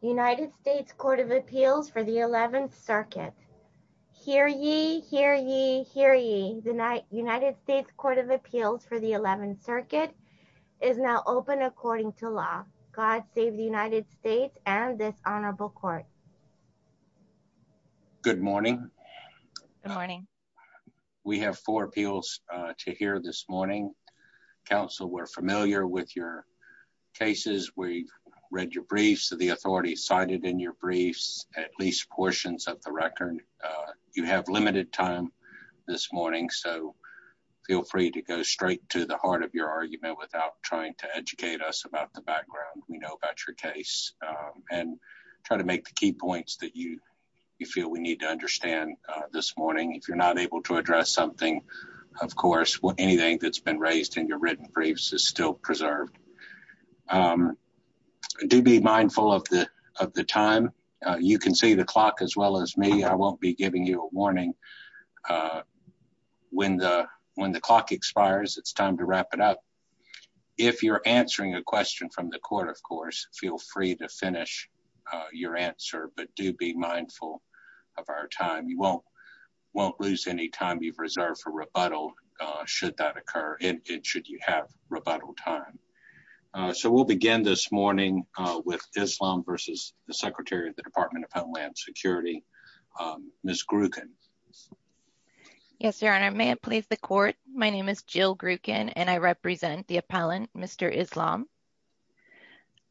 United States Court of Appeals for the 11th Circuit. Hear ye, hear ye, hear ye. The United States Court of Appeals for the 11th Circuit is now open according to law. God save the United States and this honorable court. Good morning. Good morning. We have four appeals to hear this morning. Counsel, we're familiar with your cases. We've read your briefs. The authorities cited in your briefs at least portions of the record. You have limited time this morning, so feel free to go straight to the heart of your argument without trying to educate us about the background we know about your case and try to make the key points that you feel we need to understand this morning. If you're not able to address something, of course, anything that's been raised in your written briefs is still preserved. Do be mindful of the time. You can see the clock as well as me. I won't be giving you a warning. When the clock expires, it's time to wrap it up. If you're answering a question from the court, of course, feel free to finish your answer, but do be mindful of our time. You won't lose any time you've reserved for rebuttal should that occur and should you have rebuttal time. We'll begin this morning with Islam versus the Secretary of the Department of Homeland Security. Ms. Gruken. Yes, Your Honor. May it please the court. My name is Jill Gruken, and I represent the appellant, Mr. Islam.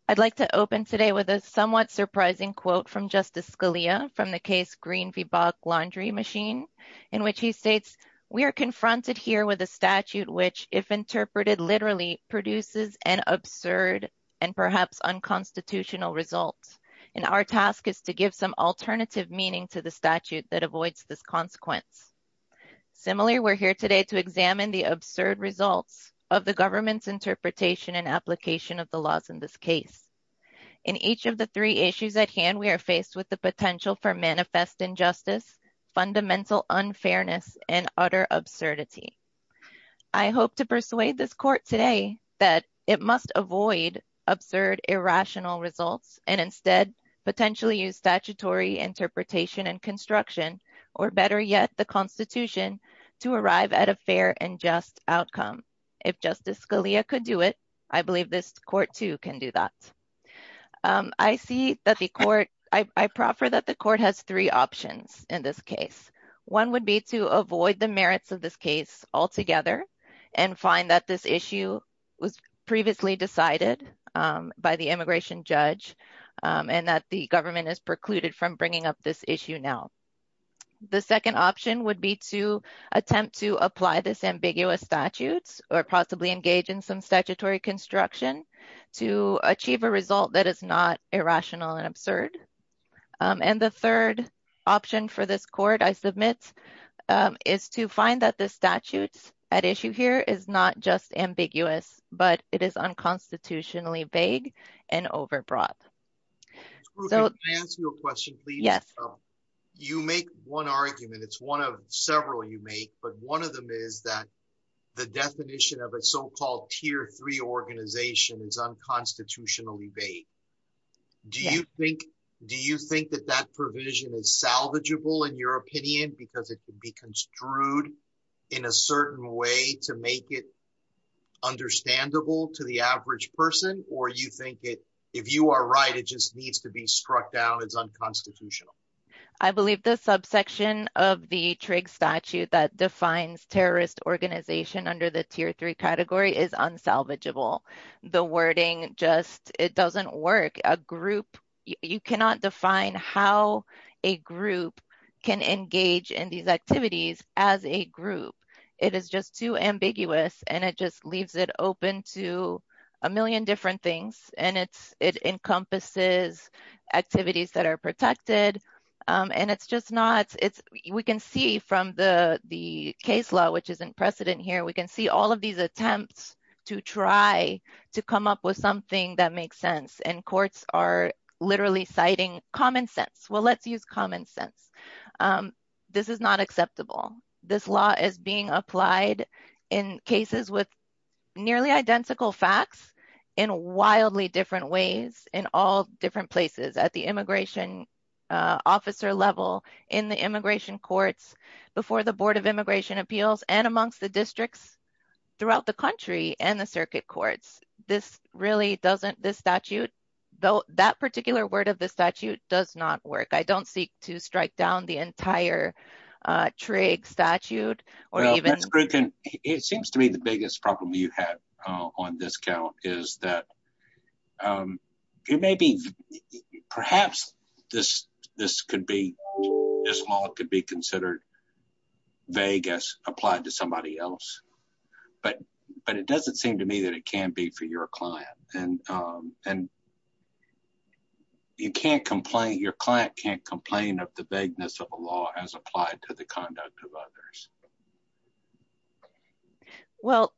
I'd like to open today with a somewhat surprising quote from Justice Scalia from the case Green v. Bach Laundry Machine, in which he states, we are confronted here with a statute which, if interpreted literally, produces an absurd and perhaps unconstitutional result, and our task is to give some alternative meaning to the statute that avoids this consequence. Similarly, we're here today to examine the absurd results of the government's interpretation and application of the laws in this case. In each of the three issues at hand, we are faced with the potential for manifest injustice, fundamental unfairness, and utter absurdity. I hope to persuade this court today that it must avoid absurd, irrational results and instead potentially use statutory interpretation and construction, or better yet, the Constitution, to arrive at a fair and just outcome. If Justice Scalia could do it, I believe this court too can do that. I see that the court, I proffer that the court has three options in this case. One would be to avoid the merits of this case altogether and find that this issue was previously decided by the immigration judge and that the government is precluded from bringing up this issue now. The second option would be to attempt to apply this ambiguous statute or possibly engage in some statutory construction to achieve a result that is not irrational and absurd. And the third option for this court, I submit, is to find that the statute at issue here is not just ambiguous, but it is unconstitutionally vague and overbroad. Can I ask you a question, please? Yes. You make one argument, it's one of several you make, but one of them is that the definition of a so-called tier three organization is unconstitutionally vague. Do you think that that provision is salvageable, in your opinion, because it could be construed in a certain way to make it understandable to the average person, or you think it, if you are right, it just needs to be struck down as unconstitutional? I believe the subsection of the TRIG statute that defines terrorist organization under the tier three category is unsalvageable. The wording just, it doesn't work. A group, you cannot define how a group can engage in these activities as a group. It is just too ambiguous, and it just leaves it open to a million different things. And it's, it encompasses activities that are protected. And it's just not, it's, we can see from the the case law, which is in precedent here, we can see all of these attempts to try to come up with something that makes sense. And courts are literally citing common sense. Well, let's use common sense. This is not acceptable. This law is being applied in cases with nearly identical facts in wildly different ways, in all different places, at the immigration officer level, in the immigration courts, before the Board of Immigration Appeals, and amongst the districts throughout the country, and the circuit courts. This really doesn't, this statute, though, that particular word of the statute does not work. I don't seek to strike down the entire TRIG statute, or even... It seems to me the biggest problem you have on this count is that it may be, perhaps this, this could be, this law could be considered vague as applied to somebody else. But, but it doesn't seem to me that it can be for your client. And, and you can't complain, your client can't complain of the vagueness of a law as applied to the conduct of others. Well,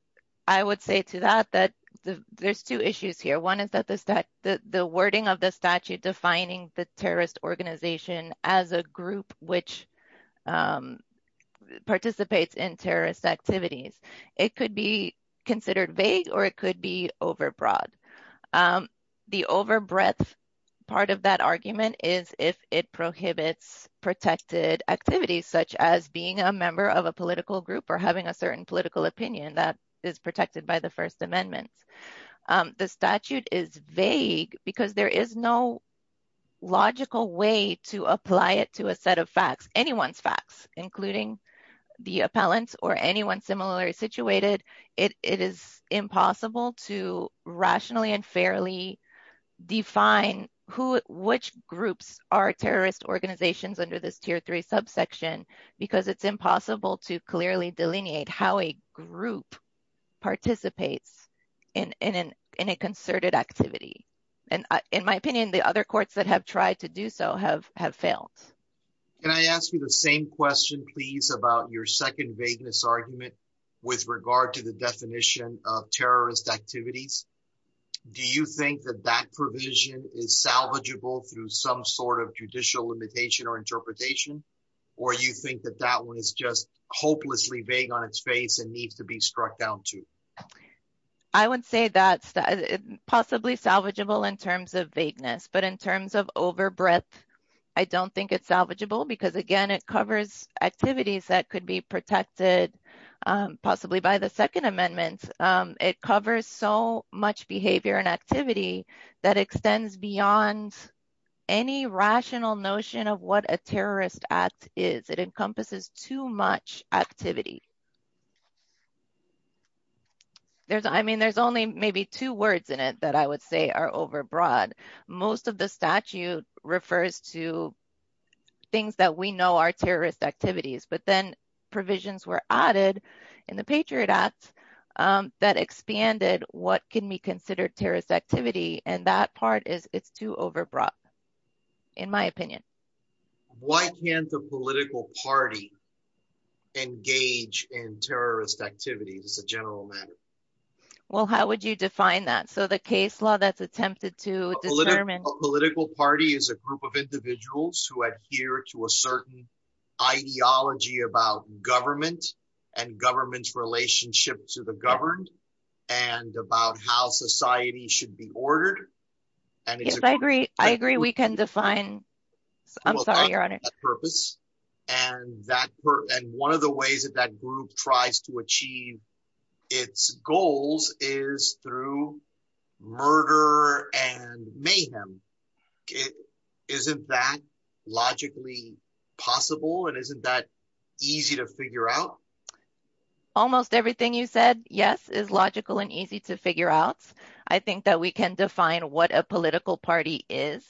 I would say to that, that there's two issues here. One is that the, the wording of the statute defining the terrorist organization as a group which participates in terrorist activities, it could be considered vague, or it could be overbroad. The overbreadth part of that argument is if it prohibits protected activities, such as being a member of a political group, or having a certain political opinion that is protected by the First Amendment. The statute is vague because there is no logical way to apply it to a set of facts, anyone's facts, including the appellant or anyone similarly situated. It is impossible to rationally and fairly define who, which groups are terrorist organizations under this Tier 3 subsection, because it's impossible to clearly delineate how a group participates in, in, in a concerted activity. And in my opinion, the other courts that have tried to do so have, have failed. Can I ask you the same question, please, about your second vagueness argument with regard to the definition of terrorist activities? Do you think that that provision is salvageable through some sort of judicial limitation or interpretation, or you think that that one is just hopelessly vague on its face and needs to be struck down to? I would say that's possibly salvageable in terms of vagueness, but in terms of overbreadth, I don't think it's salvageable, because again, it covers activities that could be protected, possibly by the Second Amendment. It covers so much behavior and activity that extends beyond any rational notion of what a terrorist act is. It encompasses too much activity. I mean, there's only maybe two words in it that I would say are overbroad. Most of the statute refers to things that we know are terrorist activities, but then provisions were added in the Patriot Act that expanded what can be considered terrorist activity, and that part is, it's too overbroad, in my opinion. Why can't the political party engage in terrorist activities as a general matter? Well, how would you define that? So the case law that's attempted to determine- A political party is a group of individuals who adhere to a certain ideology about government and government's relationship to the governed, and about how society should be ordered, and it's- Yes, I agree. I agree. We can define- I'm sorry, Your Honor.... that purpose, and one of the ways that that group tries to achieve its goals is through murder and mayhem. Isn't that logically possible, and isn't that easy to figure out? Almost everything you said, yes, is logical and easy to figure out. I think that we can define what a political party is.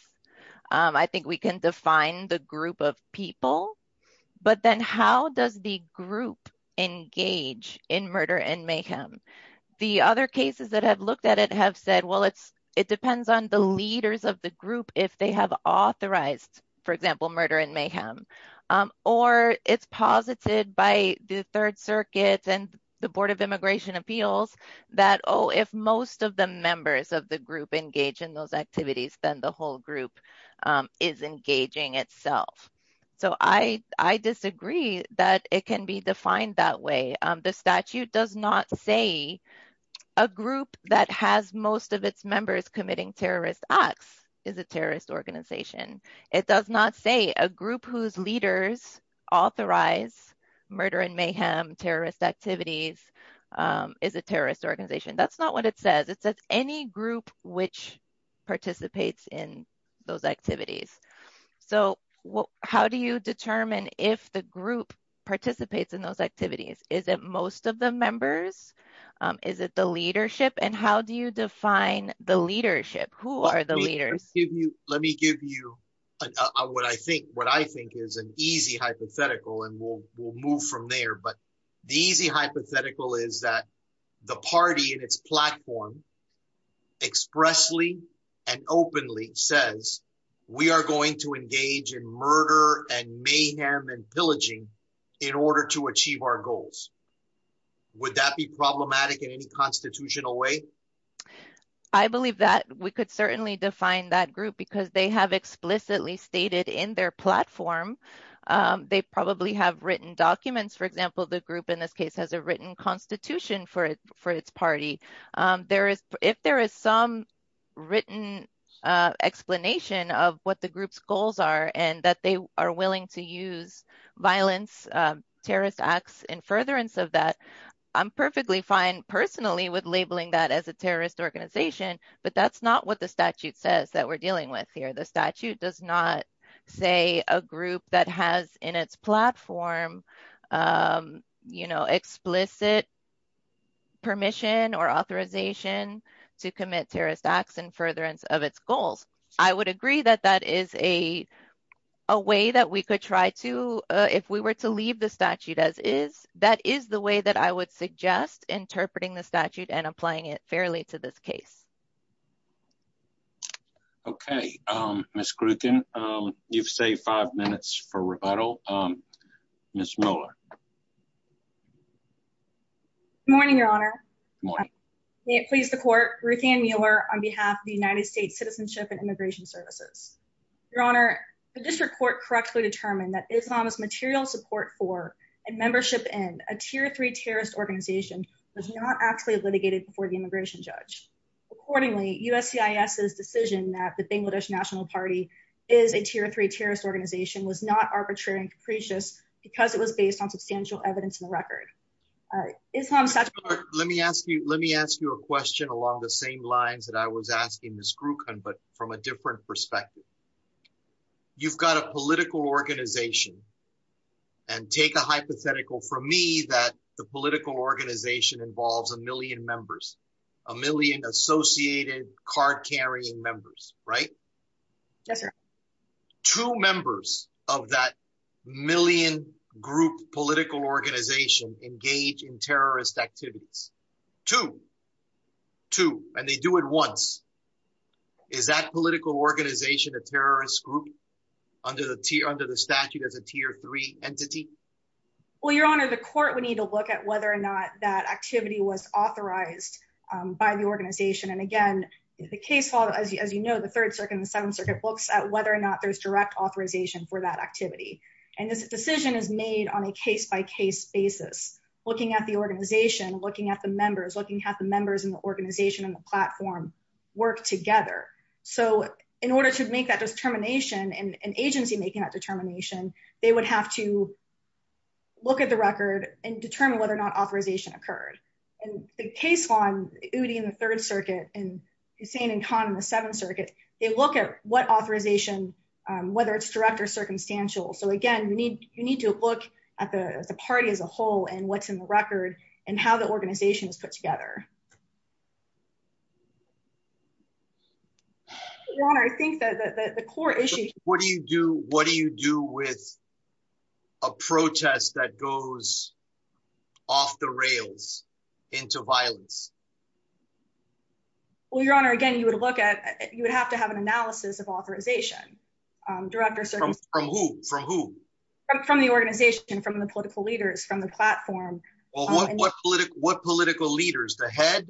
I think we can define the group of people, but then how does the group engage in murder and mayhem? The other cases that have looked at it have said, well, it depends on the leaders of the group if they have authorized, for example, murder and mayhem, or it's posited by the Third Circuit and the Board of Immigration members of the group engage in those activities, then the whole group is engaging itself. I disagree that it can be defined that way. The statute does not say a group that has most of its members committing terrorist acts is a terrorist organization. It does not say a group whose leaders authorize murder and mayhem terrorist activities is a terrorist organization. That's not what it says. It says any group which participates in those activities. How do you determine if the group participates in those activities? Is it most of the members? Is it the leadership? How do you define the leadership? Who are the leaders? Let me give you what I think is an easy hypothetical, and we'll move from there. The easy hypothetical is that the party in its platform expressly and openly says, we are going to engage in murder and mayhem and pillaging in order to achieve our goals. Would that be problematic in any constitutional way? I believe that we could certainly define that group because they have explicitly stated in their platform. They probably have written documents. For example, the group in this case has a written constitution for its party. If there is some written explanation of what the group's goals are and that they are willing to use violence, terrorist acts, and furtherance of that, I'm perfectly fine personally with labeling that as a terrorist organization, but that's not what the statute says that we're dealing with here. The statute does not say a group that has in its platform explicit permission or authorization to commit terrorist acts and furtherance of its goals. I would agree that that is a way that we could try to, if we were to leave the statute as is, that is the way that I would suggest interpreting the statute and applying it fairly to this case. Okay. Ms. Gruken, you've saved five minutes for rebuttal. Ms. Mueller. Good morning, Your Honor. May it please the court, Ruthann Mueller on behalf of the United States Citizenship and Immigration Services. Your Honor, the district court correctly determined that Islam's material support for and membership in a tier three terrorist organization was not actually litigated before the immigration judge. Accordingly, USCIS's decision that the Bangladesh National Party is a tier three terrorist organization was not arbitrary and capricious because it was based on substantial evidence in the record. Islam's statute- Let me ask you a question along the same lines that I was asking Ms. Gruken, but from a different perspective. You've got a political organization and take a hypothetical for me that the political organization involves a million members, a million associated card-carrying members, right? Yes, sir. Two members of that million group political organization engage in terrorist activities. Two. Two. And they do it once. Is that political organization a terrorist group under the statute as a tier three entity? Well, Your Honor, the court would need to look at whether or not that activity was authorized by the organization. And again, the case law, as you know, the Third Circuit and the Seventh Circuit looks at whether or not there's direct authorization for that activity. And this decision is made on a case-by-case basis, looking at the organization, looking at the members, looking at the members in the organization and the platform work together. So in order to make that determination and agency making that determination, they would have to look at the record and determine whether or not authorization occurred. And the case law, UD in the Third Circuit and Hussein and Khan in the Seventh Circuit, they look at what authorization, whether it's direct or circumstantial. So again, you need to look at the party as a whole and what's in the record and how the organization is put together. Your Honor, I think that the core issue... What do you do with a protest that goes off the rails into violence? Well, Your Honor, again, you would have to have an analysis of authorization. Direct or circumstantial. From who? From who? From the organization, from the political leaders, from the platform. Well, what political leaders? The head?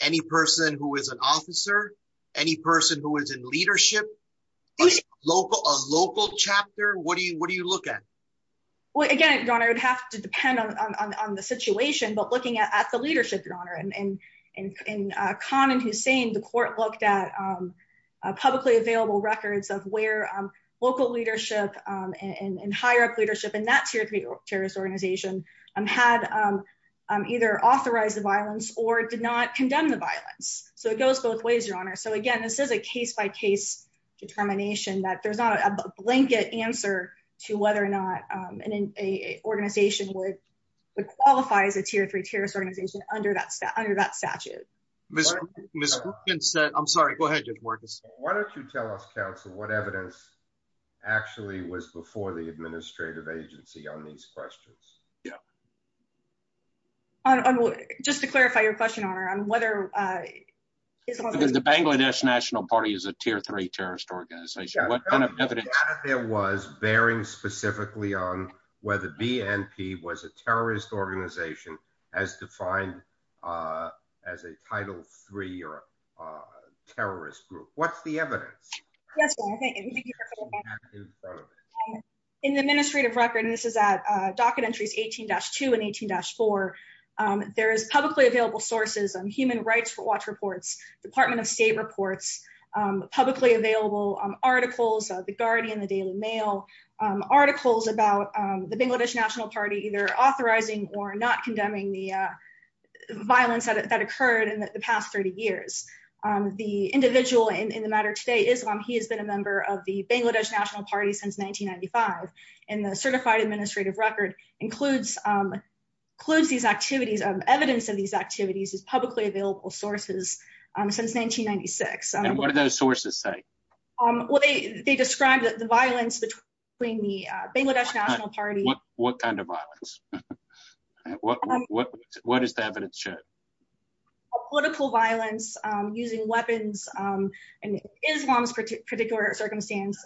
Any person who is an officer? Any person who is in leadership? A local chapter? What do you look at? Again, Your Honor, it would have to depend on the situation, but looking at the leadership, and in Khan and Hussein, the court looked at publicly available records of where local leadership and higher up leadership in that tier three terrorist organization had either authorized the violence or did not condemn the violence. So it goes both ways, Your Honor. So again, this is a case-by-case determination that there's not a blanket answer to whether or under that statute. I'm sorry. Go ahead, Judge Marcus. Why don't you tell us, counsel, what evidence actually was before the administrative agency on these questions? Just to clarify your question, Your Honor, on whether... The Bangladesh National Party is a tier three terrorist organization. Yeah, but the data there was bearing specifically on whether BNP was a terrorist organization as defined as a title three terrorist group. What's the evidence? In the administrative record, and this is at docket entries 18-2 and 18-4, there is publicly available sources, human rights watch reports, Department of State reports, publicly available articles, the Guardian, the Daily Mail, articles about the Bangladesh National Party either authorizing or not condemning the violence that occurred in the past 30 years. The individual in the matter today, Islam, he has been a member of the Bangladesh National Party since 1995, and the certified administrative record includes these activities. Evidence of these activities is publicly available sources since 1996. What do those sources say? They described the violence between the Bangladesh National Party... What kind of violence? What does the evidence show? Political violence using weapons. In Islam's particular circumstance,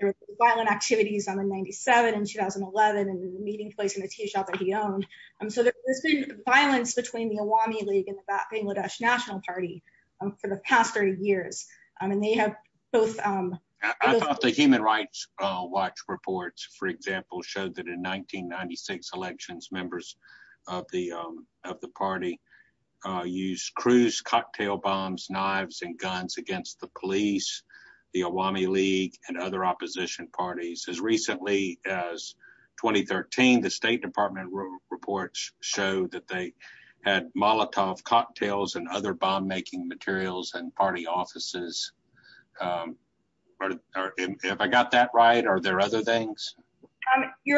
there were violent activities on the 97 in 2011 and the meeting place in the tea shop that he owned. So there's been violence between the Awami League and the Bangladesh National Party for the past 30 years. I mean, they have both... I thought the human rights watch reports, for example, showed that in 1996 elections, members of the party used cruise cocktail bombs, knives, and guns against the police, the Awami League, and other opposition parties. As recently as 2013, the State Department reports show that they had Molotov cocktails and other bomb-making materials in party offices. Have I got that right? Are there other things? You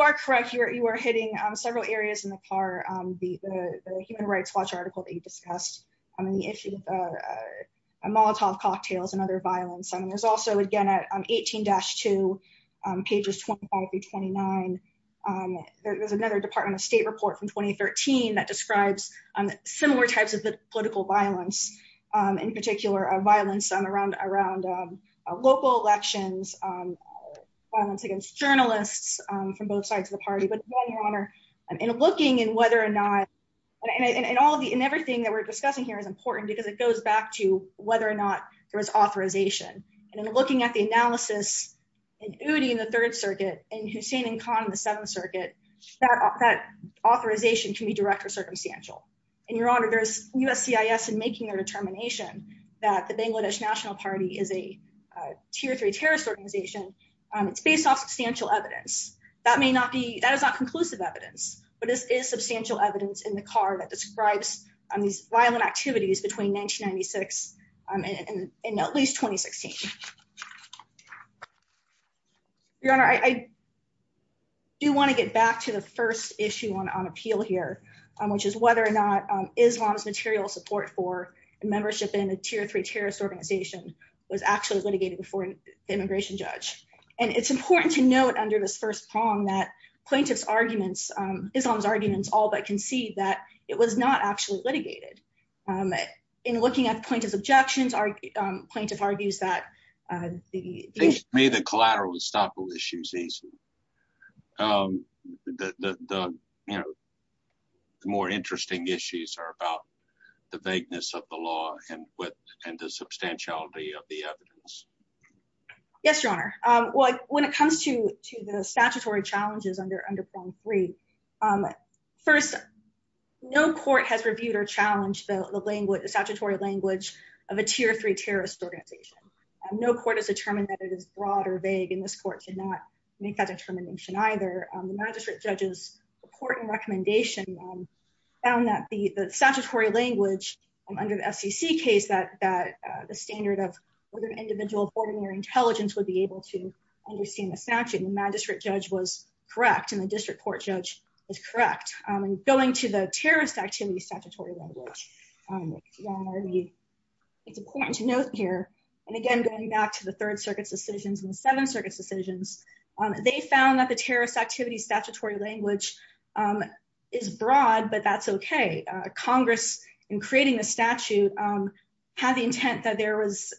are correct. You are hitting several areas in the car. The human rights watch article that you discussed on the issue of Molotov cocktails and other violence. And there's also, again, 18-2, pages 25 through 29. There's another Department of State report from 2013 that describes similar types of political violence, in particular, violence around local elections, violence against journalists from both sides of the party. But in looking in whether or not... And everything that we're discussing here is important because it goes back to whether or not there was authorization. And in looking at the analysis in Udi in the Third Circuit, in Hussein and Khan in the Seventh Circuit, that authorization can be direct or circumstantial. And Your Honor, there's USCIS in making a determination that the Bangladesh National Party is a tier three terrorist organization. It's based off substantial evidence. That may not be... That is not conclusive evidence, but this is substantial evidence in the car that in at least 2016. Your Honor, I do want to get back to the first issue on appeal here, which is whether or not Islam's material support for membership in a tier three terrorist organization was actually litigated before the immigration judge. And it's important to note under this first prong that plaintiff's arguments, Islam's arguments all but concede that it was not actually litigated. In looking at plaintiff's objections, plaintiff argues that... May the collateral estoppel issues easy. The more interesting issues are about the vagueness of the law and the substantiality of the evidence. Yes, Your Honor. When it comes to the statutory challenges under prong three, first, no court has reviewed or challenged the statutory language of a tier three terrorist organization. No court has determined that it is broad or vague, and this court did not make that determination either. The magistrate judge's court and recommendation found that the statutory language under the SEC case that the standard of whether an individual of ordinary intelligence would be able to understand the statute. The magistrate judge was correct, and the district court judge was correct. And going to the terrorist activity statutory language, it's important to note here, and again, going back to the Third Circuit's decisions and the Seventh Circuit's decisions, they found that the terrorist activity statutory language is broad, but that's okay. Congress, in creating the statute, had the intent that there was...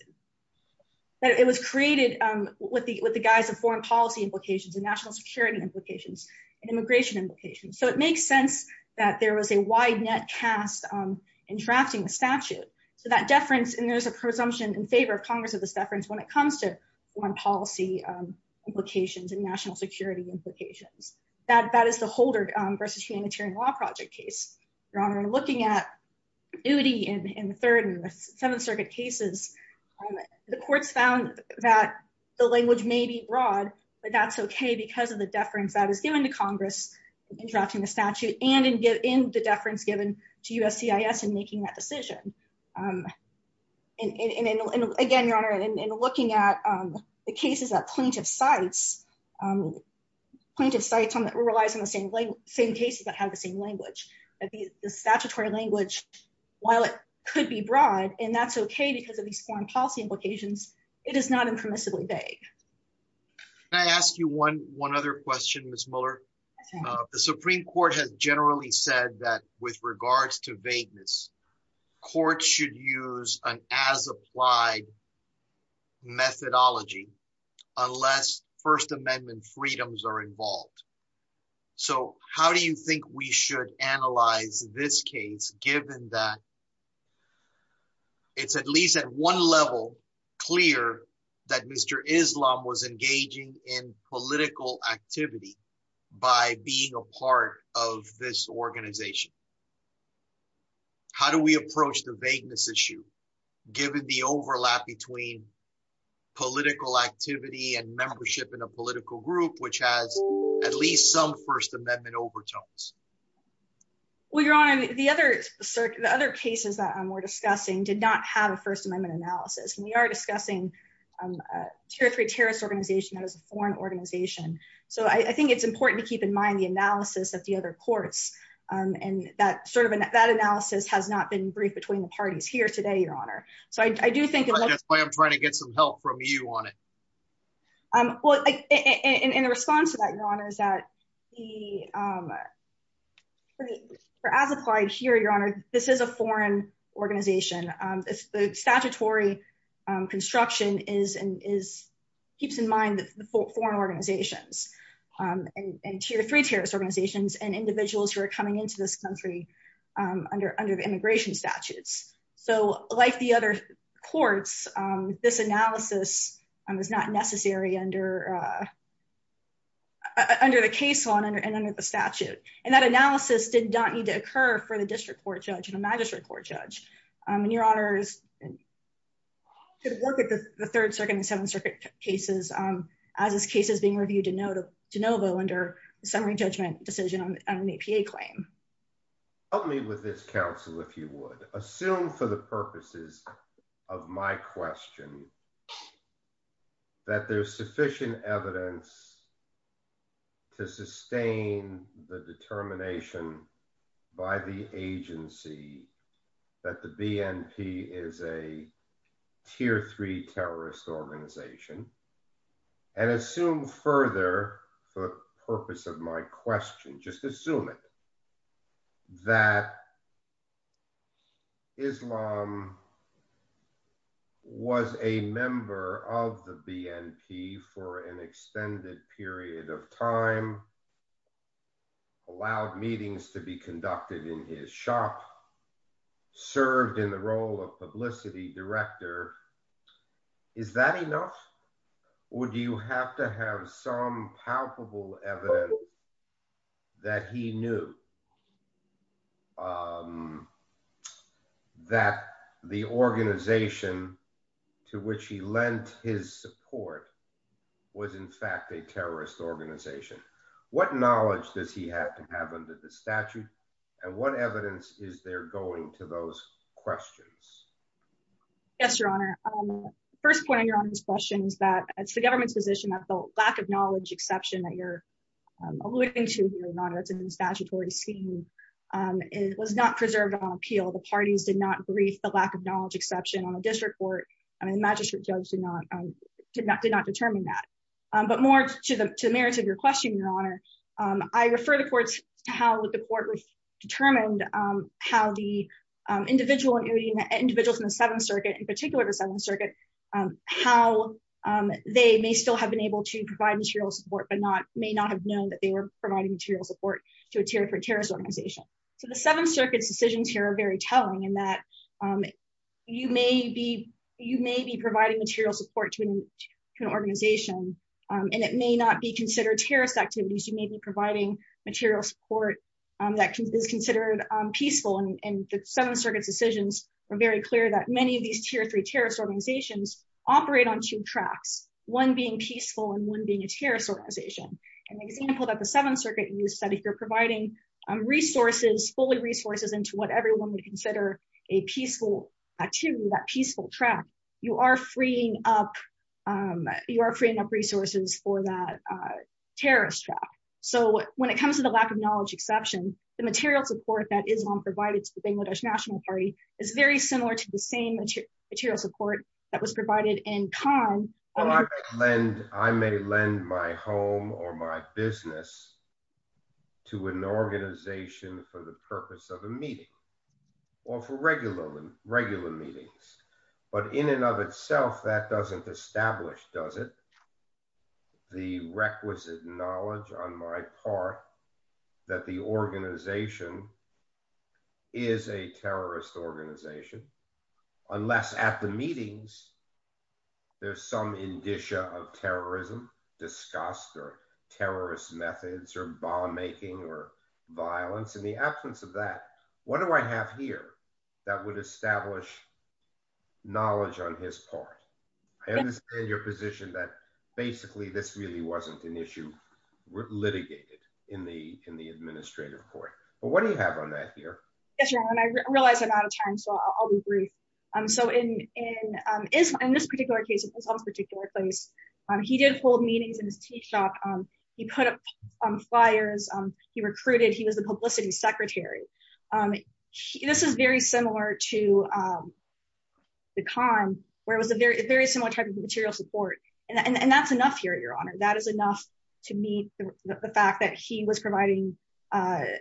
That it was created with the guise of foreign policy implications and national security implications and immigration implications. So it makes sense that there was a wide net cast in drafting the statute. So that deference, and there's a presumption in favor of Congress of this deference when it comes to foreign policy implications and national security implications. That is the Holder v. Humanitarian Law Project case. Your Honor, looking at duty in the Third and the Seventh Circuit cases, the courts found that the language may be broad, but that's okay because of the deference that is given to Congress in drafting the statute and in the deference given to USCIS in making that decision. And again, Your Honor, in looking at the cases that plaintiff cites, plaintiff cites that were realized in the same cases that have the same language. The statutory language, while it could be broad, and that's okay because of these foreign implications, it is not impermissibly vague. Can I ask you one other question, Ms. Mueller? The Supreme Court has generally said that with regards to vagueness, courts should use an as applied methodology unless First Amendment freedoms are involved. So how do you think we should analyze this case given that it's at least at one level clear that Mr. Islam was engaging in political activity by being a part of this organization? How do we approach the vagueness issue given the overlap between political activity and membership in a political group which has at least some First Amendment overtones? Well, Your Honor, the other cases that we're discussing did not have a First Amendment analysis. We are discussing a tier three terrorist organization that is a foreign organization. So I think it's important to keep in mind the analysis of the other courts and that sort of that analysis has not been briefed between the parties here today, Your Honor. So I do think that's why I'm trying to get some help from you on it. Well, in response to that, Your Honor, as applied here, Your Honor, this is a foreign organization. The statutory construction keeps in mind the foreign organizations and tier three terrorist organizations and individuals who are coming into this country under the immigration statutes. So like the other courts, this analysis was not necessary under the case law and under the statute. And that analysis did not need to occur for the district court judge and a magistrate court judge. And Your Honor could work with the Third Circuit and Seventh Circuit cases as this case is being reviewed de novo under the summary judgment decision on an APA claim. Help me with this, counsel, if you would. Assume for the purposes of my question that there's sufficient evidence to sustain the determination by the agency that the BNP is a tier three terrorist organization. And assume further for the purpose of my question, just assume it, that Islam was a member of the BNP for an extended period of time, allowed meetings to be conducted in his shop, served in the role of publicity director. Is that enough? Or do you have to have some palpable evidence that he knew that the organization to which he lent his support was in fact a terrorist organization? What knowledge does he have to have under the statute? And what evidence is there going to those questions? Yes, Your Honor. First point on Your Honor's question is that it's the government's position that the lack of knowledge exception that you're alluding to, Your Honor, it's in the statutory scheme. It was not preserved on appeal. The parties did not brief the lack of knowledge exception on a district court. And the magistrate judge did not determine that. But more to the merits of your question, Your Honor, I refer the courts to how the court was how the individuals in the Seventh Circuit, in particular, the Seventh Circuit, how they may still have been able to provide material support, but may not have known that they were providing material support to a terrorist organization. So the Seventh Circuit's decisions here are very telling in that you may be providing material support to an organization, and it may not be peaceful. And the Seventh Circuit's decisions are very clear that many of these tier three terrorist organizations operate on two tracks, one being peaceful and one being a terrorist organization. An example that the Seventh Circuit used that if you're providing resources, fully resources into what everyone would consider a peaceful activity, that peaceful track, you are freeing up, you are freeing up resources for that terrorist track. So when it comes to the Bangladesh National Party, it's very similar to the same material support that was provided in Khan. I may lend my home or my business to an organization for the purpose of a meeting, or for regular meetings. But in and of itself, that doesn't establish, does it, the requisite knowledge on my part that the organization is a terrorist organization, unless at the meetings, there's some indicia of terrorism, disgust, or terrorist methods, or bomb making, or violence. In the absence of that, what do I have here that would establish knowledge on his part? I understand your position that basically, this really wasn't an issue litigated in the administrative court. But what do you have on that here? Yes, Your Honor, and I realize I'm out of time, so I'll be brief. So in this particular case, in Islam's particular case, he did hold meetings in his tea shop. He put up flyers, he recruited, he was the publicity secretary. This is very similar to the Khan, where it was a very similar type of material support. And that's enough here, Your Honor, that is enough to meet the fact that he was providing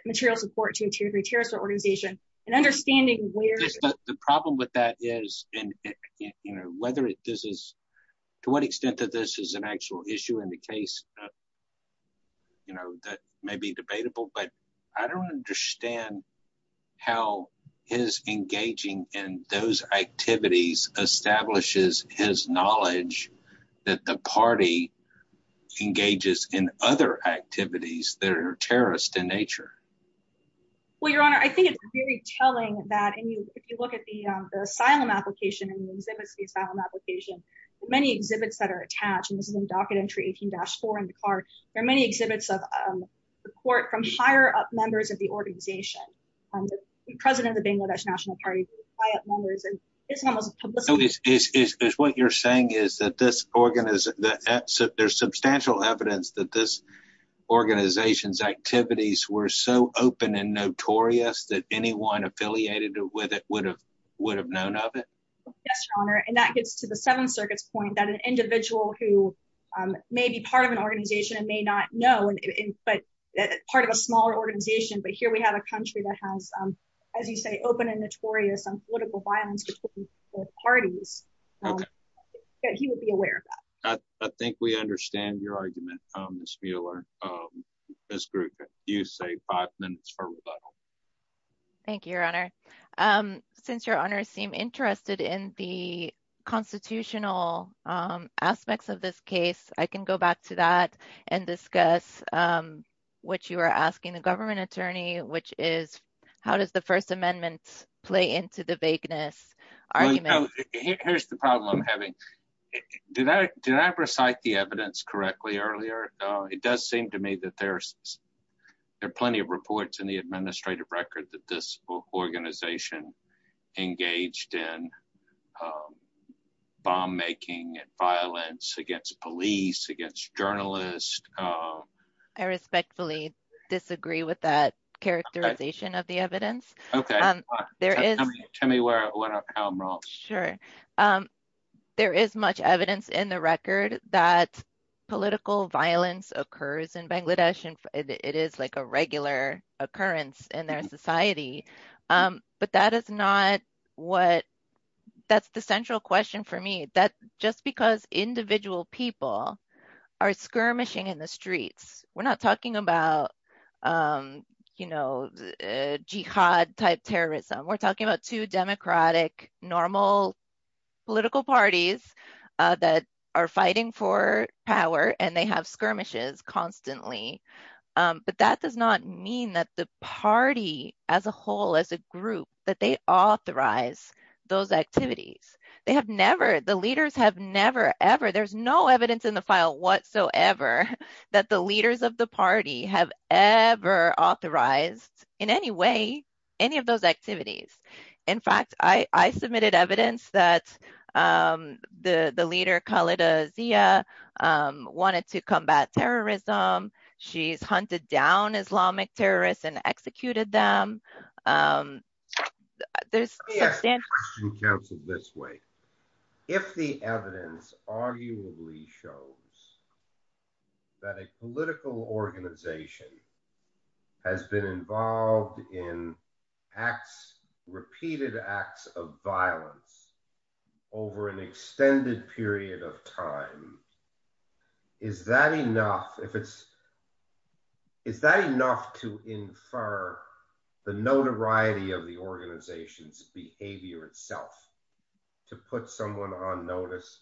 material support to a terrorist organization, and understanding where... The problem with that is, to what extent that this is an actual issue in the case, that may be debatable, but I don't understand how his engaging in those activities establishes his knowledge that the party engages in other activities that are terrorist in nature. Well, Your Honor, I think it's very telling that if you look at the asylum application, and the exhibits of the asylum application, many exhibits that are attached, and this is there are many exhibits of support from higher up members of the organization. President of the Bangladesh National Party, high up members, and Islam as a publicity... So, what you're saying is that there's substantial evidence that this organization's activities were so open and notorious that anyone affiliated with it would have known of it? Yes, Your Honor, and that gets to the Seventh Circuit's point that an individual who may be part of an organization and may not know, but part of a smaller organization, but here we have a country that has, as you say, open and notorious on political violence between both parties, that he would be aware of that. I think we understand your argument, Ms. Mueller. Ms. Gruca, you say five minutes for rebuttal. Thank you, Your Honor. Since Your Honor seemed interested in the constitutional aspects of this case, I can go back to that and discuss what you were asking the government attorney, which is how does the First Amendment play into the vagueness argument? Here's the problem I'm having. Did I recite the evidence correctly earlier? It does seem to me that there are plenty of reports in the administrative record that this organization engaged in bomb-making and violence against police, against journalists. I respectfully disagree with that characterization of the evidence. Tell me how I'm wrong. Sure. There is much evidence in the record that political violence occurs in Bangladesh, it is a regular occurrence in their society. That's the central question for me. Just because individual people are skirmishing in the streets, we're not talking about jihad-type terrorism. We're talking about two democratic, normal political parties that are fighting for power, and they have skirmishes constantly. That does not mean that the party as a whole, as a group, that they authorize those activities. The leaders have never, ever—there's no evidence in the file whatsoever that the leaders of the party have ever authorized, in any way, any of those activities. In fact, I submitted evidence that the leader Khalida Zia wanted to combat terrorism. She's hunted down Islamic terrorists and executed them. There's substantial— Let me ask a question, counsel, this way. If the evidence arguably shows that a political organization has been involved in repeated acts of violence over an extended period of time, is that enough to infer the notoriety of the organization's behavior itself, to put someone on notice?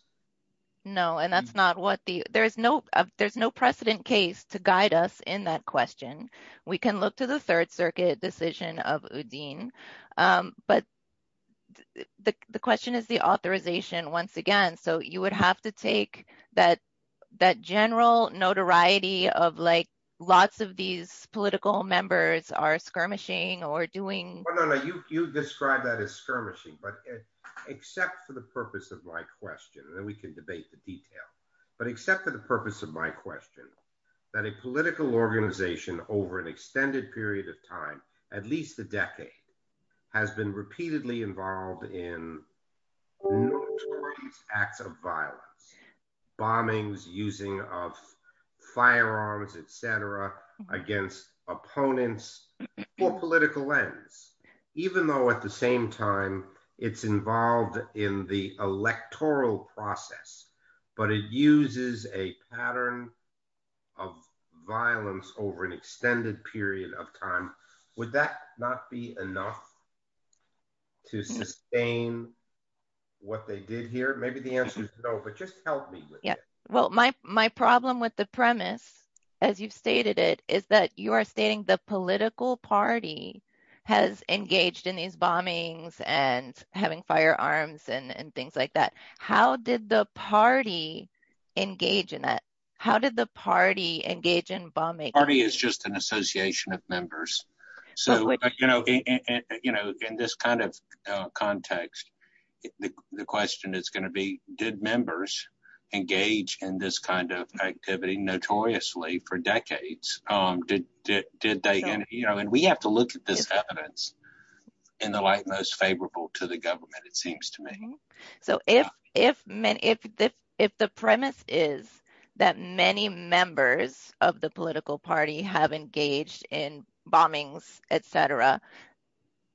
No. There's no precedent case to guide us in that question. We can look to the Third Circuit decision of Uddin, but the question is the authorization, once again. You would have to take that general notoriety of lots of these political members are skirmishing or doing— You describe that as skirmishing, but except for the purpose of my question, and then we can debate the detail, but except for the purpose of my question, that a political organization, over an extended period of time, at least a decade, has been repeatedly involved in notorious acts of violence, bombings, using of firearms, etc., against opponents, for political ends, even though, at the same time, it's involved in the of violence over an extended period of time. Would that not be enough to sustain what they did here? Maybe the answer is no, but just help me with that. Yeah. Well, my problem with the premise, as you've stated it, is that you are stating the political party has engaged in these bombings and having firearms and things like that. How did the engage in bombings? The party is just an association of members. In this kind of context, the question is going to be, did members engage in this kind of activity notoriously for decades? We have to look at this evidence in the light most favorable to government, it seems to me. If the premise is that many members of the political party have engaged in bombings, etc.,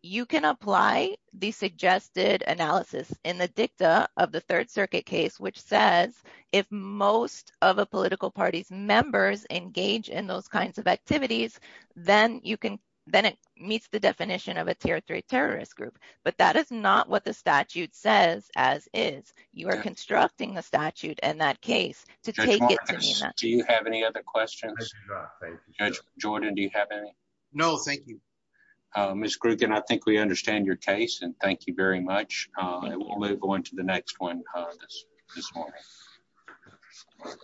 you can apply the suggested analysis in the dicta of the Third Circuit case, which says if most of a political party's members engage in those kinds of activities, then it meets the definition of a tier three terrorist group. But that is not what the statute says as is. You are constructing a statute in that case to take it to mean that. Judge Marcus, do you have any other questions? Judge Jordan, do you have any? No, thank you. Ms. Grugan, I think we understand your case, and thank you very much. We'll move on to the next one this morning.